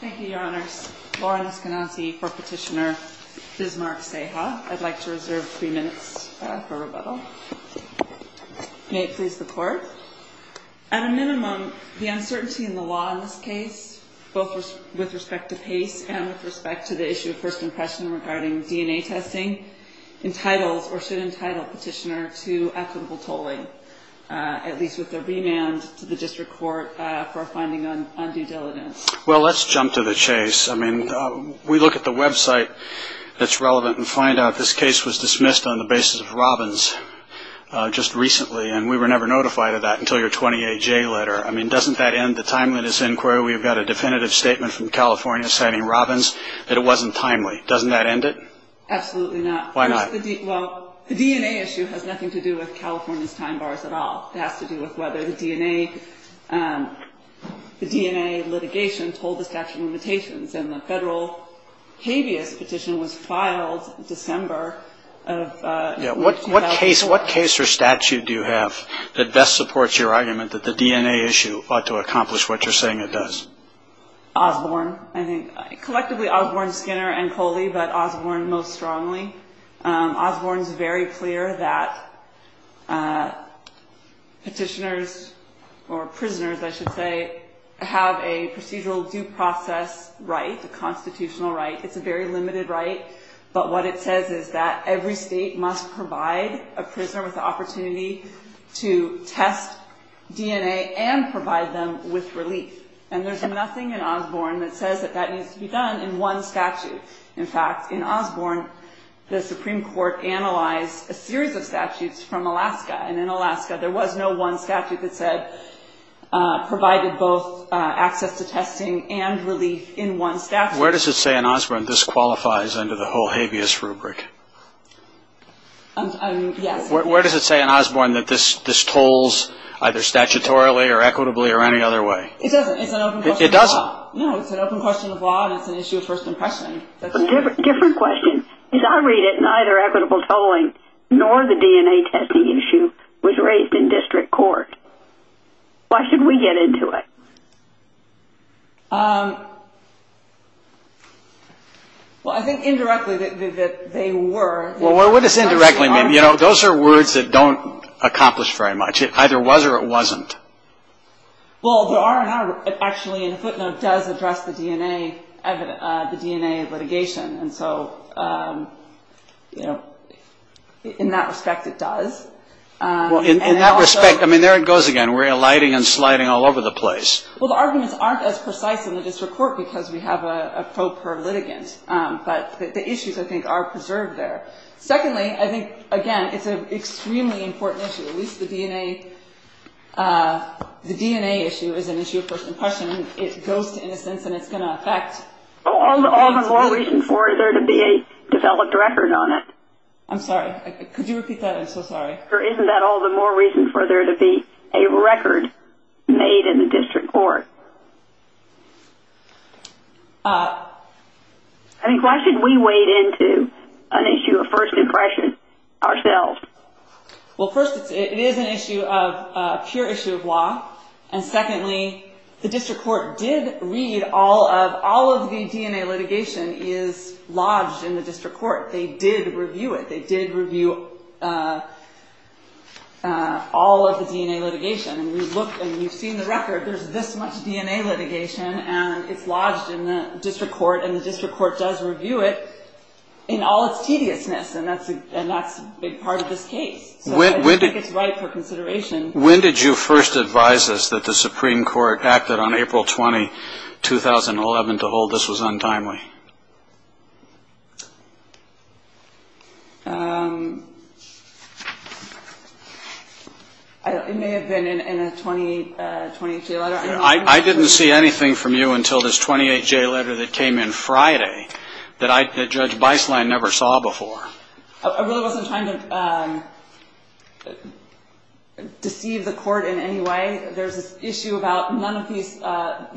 Thank you, Your Honors. Lauren Eskenazi for Petitioner Bismarck Ceja. I'd like to reserve three minutes for rebuttal. May it please the Court. At a minimum, the uncertainty in the law in this case, both with respect to PACE and with respect to the issue of first impression regarding DNA testing, entitles or should entitle petitioner to equitable tolling, at least with a remand to the district court for a finding on undue diligence. Well, let's jump to the chase. I mean, we look at the website that's relevant and find out this case was dismissed on the basis of Robbins just recently, and we were never notified of that until your 28-J letter. I mean, doesn't that end the timeliness inquiry? We've got a definitive statement from California citing Robbins that it wasn't timely. Doesn't that end it? Absolutely not. Why not? Well, the DNA issue has nothing to do with California's time bars at all. It has to do with whether the DNA litigation told the statute of limitations. And the federal habeas petition was filed December of 2000. What case or statute do you have that best supports your argument that the DNA issue ought to accomplish what you're saying it does? Osborne, I think. Collectively, Osborne, Skinner, and Coley, but Osborne most strongly. Osborne's very clear that petitioners or prisoners, I should say, have a procedural due process right, a constitutional right. It's a very limited right, but what it says is that every state must provide a prisoner with the opportunity to test DNA and provide them with relief. And there's nothing in Osborne that says that that needs to be done in one statute. In fact, in Osborne, the Supreme Court analyzed a series of statutes from Alaska. And in Alaska, there was no one statute that said provided both access to testing and relief in one statute. Where does it say in Osborne this qualifies under the whole habeas rubric? Yes. Where does it say in Osborne that this tolls either statutorily or equitably or any other way? It doesn't. It's an open question of law. It doesn't? No, it's an open question of law, and it's an issue of first impression. Different question. Because I read it, neither equitable tolling nor the DNA testing issue was raised in district court. Why should we get into it? Well, I think indirectly that they were. Well, what does indirectly mean? Those are words that don't accomplish very much. It either was or it wasn't. Well, there are, actually, in a footnote, it does address the DNA litigation. And so in that respect, it does. Well, in that respect, I mean, there it goes again. We're alighting and sliding all over the place. Well, the arguments aren't as precise in the district court because we have a pro per litigant. But the issues, I think, are preserved there. Secondly, I think, again, it's an extremely important issue. At least the DNA issue is an issue of first impression. It goes to innocence. And it's going to affect. Well, all the more reason for there to be a developed record on it. I'm sorry. Could you repeat that? I'm so sorry. Or isn't that all the more reason for there to be a record made in the district court? I think, why should we wade into an issue of first impression ourselves? Well, first, it is an issue of pure issue of law. And secondly, the district court did read all of the DNA litigation is lodged in the district court. They did review it. They did review all of the DNA litigation. And we've looked, and we've seen the record. There's this much DNA litigation. And it's lodged in the district court. And the district court does review it in all its tediousness. And that's a big part of this case. So I think it's right for consideration. When did you first advise us that the Supreme Court acted on April 20, 2011, to hold this was untimely? It may have been in a 28J letter. I didn't see anything from you until this 28J letter that came in Friday that Judge Beislein never saw before. I really wasn't trying to deceive the court in any way. There's this issue about none of these.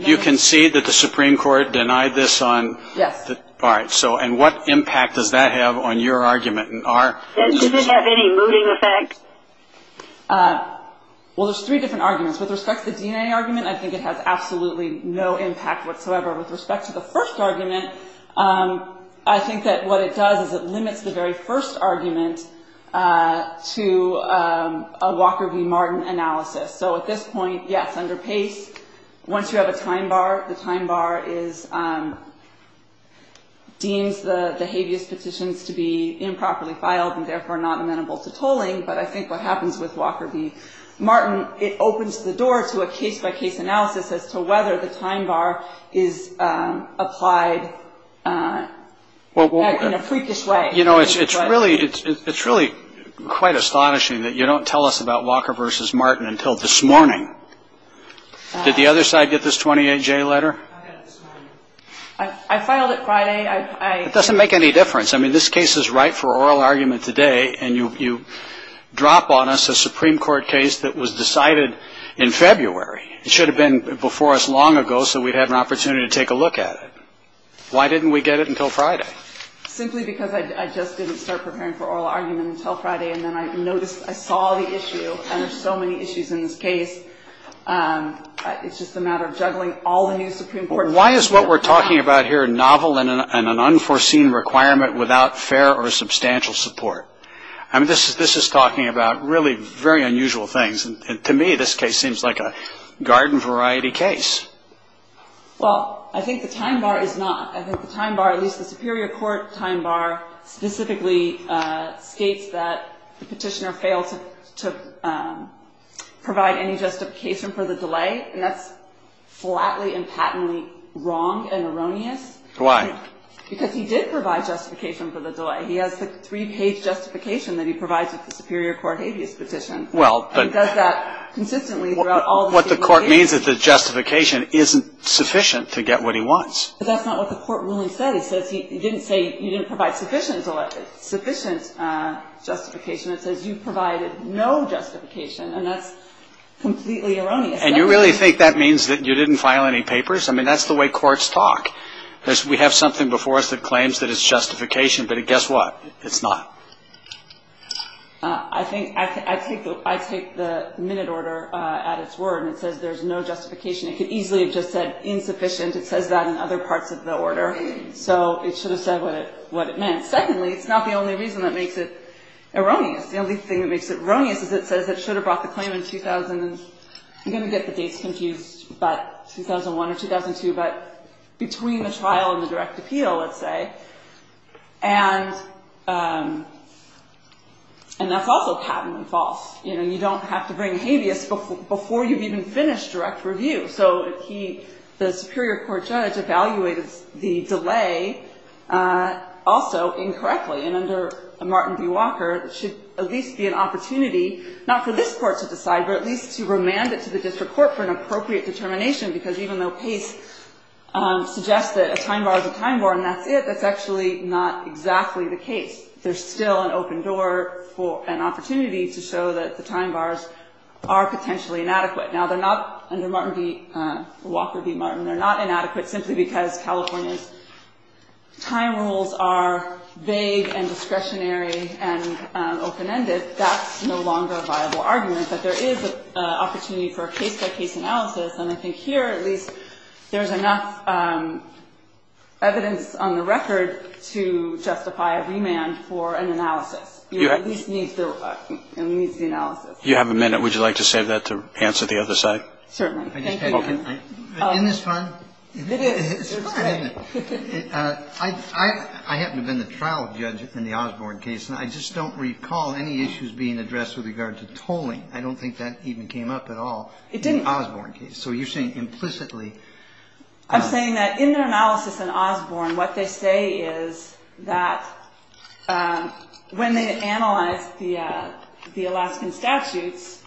You concede that the Supreme Court denied this on? Yes. All right. And what impact does that have on your argument and our? Does it have any mooting effect? Well, there's three different arguments. With respect to the DNA argument, I think it has absolutely no impact whatsoever. With respect to the first argument, I think that what it does is it limits the very first argument to a Walker v. Martin analysis. So at this point, yes, under Pace, once you have a time bar, the time bar deems the habeas petitions to be improperly filed and therefore not amenable to tolling. But I think what happens with Walker v. Martin, it opens the door to a case-by-case analysis as to whether the time bar is applied in a freakish way. You know, it's really quite astonishing that you don't tell us about Walker v. Martin until this morning. Did the other side get this 28-J letter? I got it this morning. I filed it Friday. It doesn't make any difference. I mean, this case is right for oral argument today, and you drop on us a Supreme Court case that was decided in February. It should have been before us long ago so we'd had an opportunity to take a look at it. Why didn't we get it until Friday? Simply because I just didn't start preparing for oral argument until Friday, and then I noticed, I saw the issue, and there's so many issues in this case. It's just a matter of juggling all the new Supreme Court. Why is what we're talking about here novel and an unforeseen requirement without fair or substantial support? I mean, this is talking about really very unusual things, and to me, this case seems like a garden variety case. Well, I think the time bar is not. I think the time bar, at least the Superior Court time bar, specifically states that the petitioner failed to provide any justification for the delay, and that's flatly and patently wrong and erroneous. Why? Because he did provide justification for the delay. He has the three-page justification that he provides with the Superior Court habeas petition. He does that consistently throughout all the cases. What the court means is that the justification isn't sufficient to get what he wants. But that's not what the court really said. He didn't say you didn't provide sufficient justification. It says you provided no justification, and that's completely erroneous. And you really think that means that you didn't file any papers? I mean, that's the way courts talk. We have something before us that claims that it's justification, but guess what? It's not. I think I take the minute order at its word, and it says there's no justification. It could easily have just said insufficient. It says that in other parts of the order. So it should have said what it meant. Secondly, it's not the only reason that makes it erroneous. The only thing that makes it erroneous is it says it should have brought the claim in 2000. I'm going to get the dates confused, but 2001 or 2002, but between the trial and the direct appeal, let's say. And that's also patent and false. You don't have to bring habeas before you've even finished direct review. So the Superior Court judge evaluated the delay also incorrectly. And under Martin v. Walker, it should at least be an opportunity, not for this court to decide, but at least to remand it to the district court for an appropriate determination, because even though Pace suggests that a time bar is a time bar and that's it, that's actually not exactly the case. There's still an open door for an opportunity to show that the time bars are potentially inadequate. Now, under Walker v. Martin, they're not inadequate simply because California's time rules are vague and discretionary and open-ended. That's no longer a viable argument, but there is an opportunity for a case-by-case analysis. And I think here, at least, there's enough evidence on the record to justify a remand for an analysis. You at least need the analysis. You have a minute. Would you like to save that to answer the other side? Certainly. Thank you. In this time? It is. It's fine. I happen to have been the trial judge in the Osborne case, and I just don't recall any issues being addressed with regard to tolling. I don't think that even came up at all in the Osborne case. So you're saying implicitly? I'm saying that in their analysis in Osborne, what they say is that when they analyze the Alaskan statutes,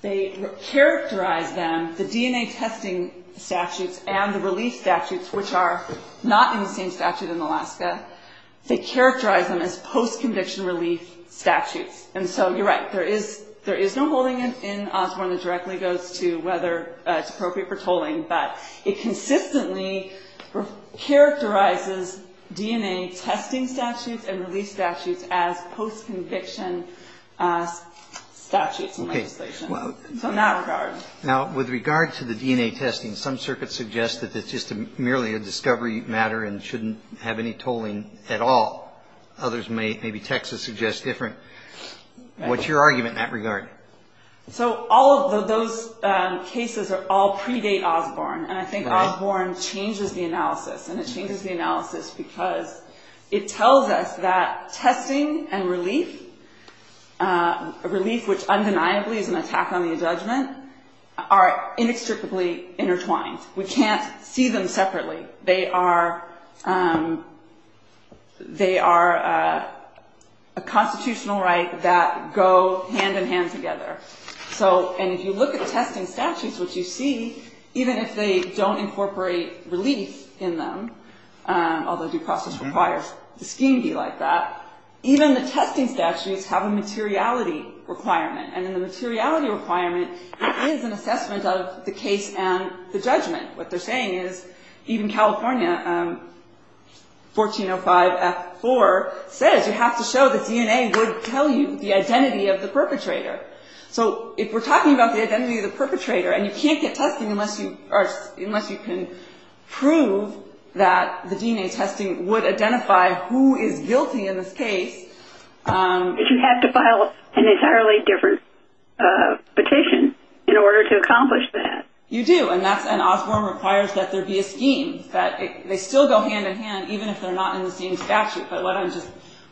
they characterize them, the DNA testing statutes and the relief statutes, which are not in the same statute in Alaska, they characterize them as post-conviction relief statutes. And so you're right. There is no holding in Osborne that directly goes to whether it's appropriate for tolling. But it consistently characterizes DNA testing statutes and relief statutes as post-conviction statutes and legislation. So in that regard. Now, with regard to the DNA testing, some circuits suggest that it's just merely a discovery matter and shouldn't have any tolling at all. Others, maybe Texas, suggest different. What's your argument in that regard? So all of those cases all predate Osborne. And I think Osborne changes the analysis. And it changes the analysis because it tells us that testing and relief, relief which undeniably is an attack on the judgment, are inextricably intertwined. We can't see them separately. They are a constitutional right that go hand-in-hand together. And if you look at the testing statutes, which you see, even if they don't incorporate relief in them, although due process requires the scheme be like that, even the testing statutes have a materiality requirement. And in the materiality requirement, it is an assessment of the case and the judgment. What they're saying is, even California 1405F4 says you have to show that DNA would tell you the identity of the perpetrator. So if we're talking about the identity of the perpetrator and you can't get testing unless you can prove that the DNA testing would identify who is guilty in this case. But you have to file an entirely different petition in order to accomplish that. You do. And Osborne requires that there be a scheme, that they still go hand-in-hand even if they're not in the same statute. But what I just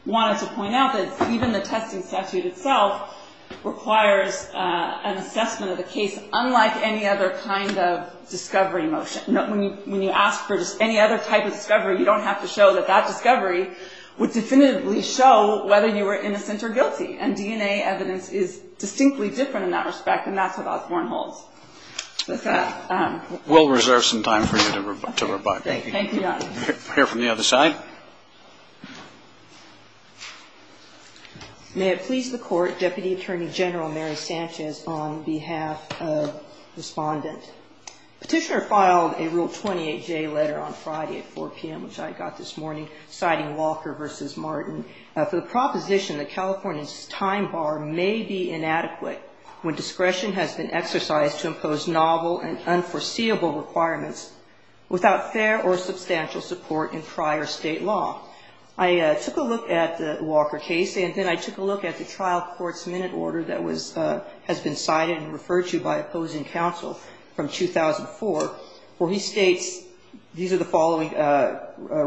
wanted to point out is even the testing statute itself requires an assessment of the case unlike any other kind of discovery motion. When you ask for just any other type of discovery, you don't have to show that that discovery would definitively show whether you were innocent or guilty. And DNA evidence is distinctly different in that respect. And that's what Osborne holds. We'll reserve some time for you to rebut. Thank you, Your Honor. We'll hear from the other side. May it please the Court, Deputy Attorney General Mary Sanchez on behalf of the respondent. Petitioner filed a Rule 28J letter on Friday at 4 PM, which I got this morning, citing Walker versus Martin for the proposition that California's time bar may be inadequate when discretion has been exercised to impose novel and unforeseeable requirements without fair or substantial support in prior state law. I took a look at the Walker case. And then I took a look at the trial court's minute order that has been cited and referred to by opposing counsel from 2004, where he states, these are the following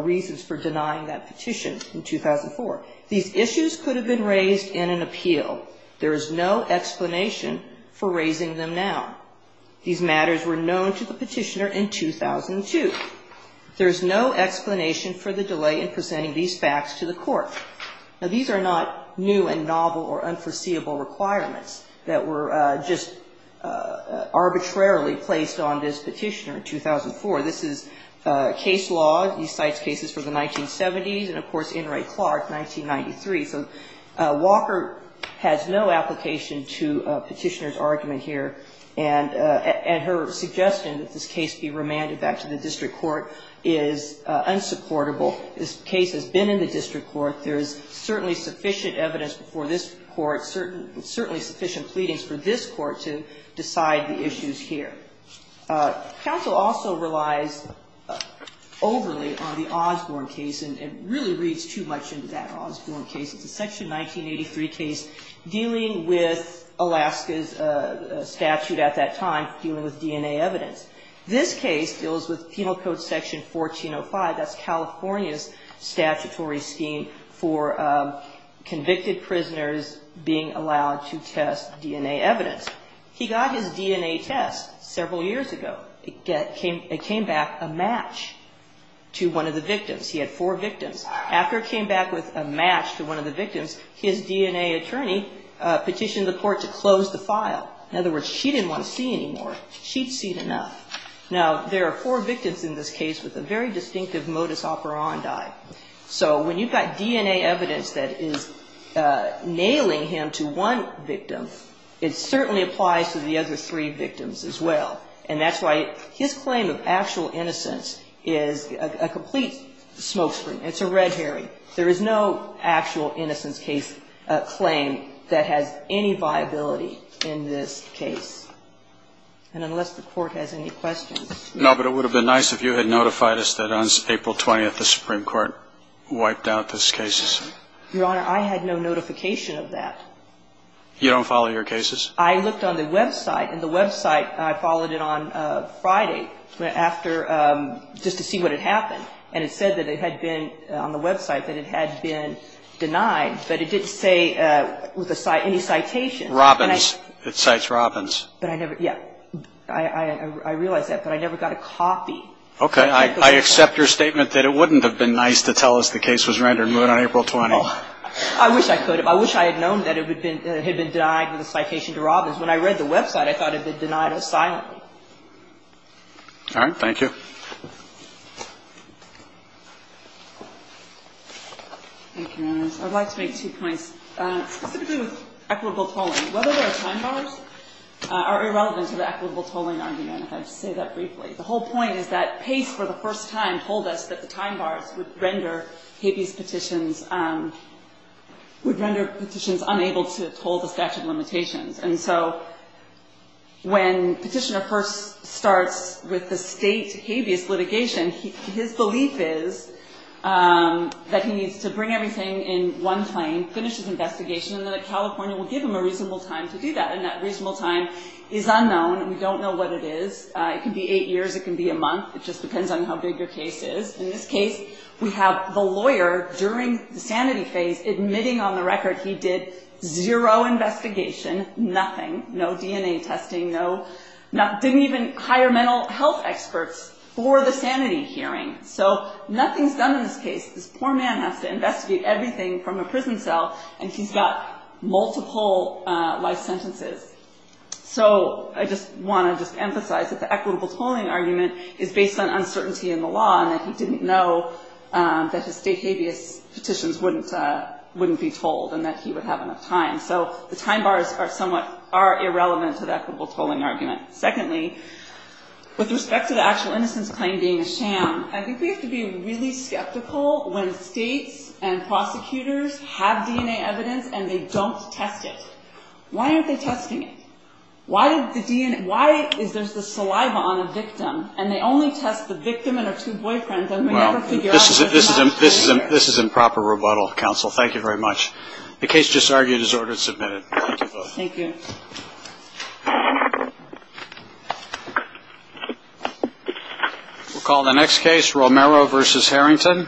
reasons for denying that petition in 2004. These issues could have been raised in an appeal. There is no explanation for raising them now. These matters were known to the petitioner in 2002. There is no explanation for the delay in presenting these facts to the court. Now, these are not new and novel or unforeseeable requirements that were just arbitrarily placed on this petitioner in 2004. This is case law. He cites cases for the 1970s and, of course, In re Clark, 1993. So Walker has no application to a petitioner's argument here. And her suggestion that this case be remanded back to the district court is unsupportable. This case has been in the district court. There is certainly sufficient evidence before this court, certainly sufficient pleadings for this court to decide the issues here. Counsel also relies overly on the Osborne case. And it really reads too much into that Osborne case. It's a section 1983 case dealing with Alaska's statute at that time, dealing with DNA evidence. This case deals with Penal Code Section 1405. That's California's statutory scheme for convicted prisoners being allowed to test DNA evidence. He got his DNA test several years ago. It came back a match to one of the victims. He had four victims. After it came back with a match to one of the victims, his DNA attorney petitioned the court to close the file. In other words, she didn't want to see anymore. She'd seen enough. Now, there are four victims in this case with a very distinctive modus operandi. So when you've got DNA evidence that is nailing him to one victim, it certainly applies to the other three victims as well. And that's why his claim of actual innocence is a complete smokescreen. It's a red herring. There is no actual innocence claim that has any viability in this case. And unless the court has any questions. No, but it would have been nice if you had notified us that on April 20, the Supreme Court wiped out this case. Your Honor, I had no notification of that. You don't follow your cases? I looked on the website. And the website, I followed it on Friday just to see what had happened. And it said that it had been on the website that it had been denied. But it didn't say with any citation. Robbins. It cites Robbins. But I never, yeah, I realize that. But I never got a copy. OK, I accept your statement that it wouldn't have been nice to tell us the case was rendered moot on April 20. I wish I could have. I wish I had known that it had been denied with a citation to Robbins. When I read the website, I thought it had been denied us silently. All right, thank you. Thank you, Your Honor. I'd like to make two points, specifically with equitable tolling. Whether there are time bars are irrelevant to the equitable tolling argument, if I could say that briefly. The whole point is that Pace, for the first time, told us that the time bars would render habeas petitions unable to toll the statute of limitations. And so when petitioner first starts with the state habeas litigation, his belief is that he needs to bring everything in one claim, finish his investigation, and then California will give him a reasonable time to do that. And that reasonable time is unknown. We don't know what it is. It can be eight years. It can be a month. It just depends on how big your case is. In this case, we have the lawyer during the sanity phase admitting on the record he did zero investigation, nothing. No DNA testing, didn't even hire mental health experts for the sanity hearing. So nothing's done in this case. This poor man has to investigate everything from a prison cell, and he's got multiple life sentences. So I just want to just emphasize that the equitable tolling argument is based on uncertainty in the law, and that he didn't know that his state habeas petitions wouldn't be tolled, and that he would have enough time. So the time bars are somewhat irrelevant to the equitable tolling argument. Secondly, with respect to the actual innocence claim being a sham, I think we have to be really skeptical when states and prosecutors have DNA evidence, and they don't test it. Why aren't they testing it? Why is there the saliva on a victim? And they only test the victim and her two boyfriends, and they never figure out if they're not. This is improper rebuttal, counsel. Thank you very much. The case just argued is ordered and submitted. Thank you. Thank you. We'll call the next case Romero versus Harrington.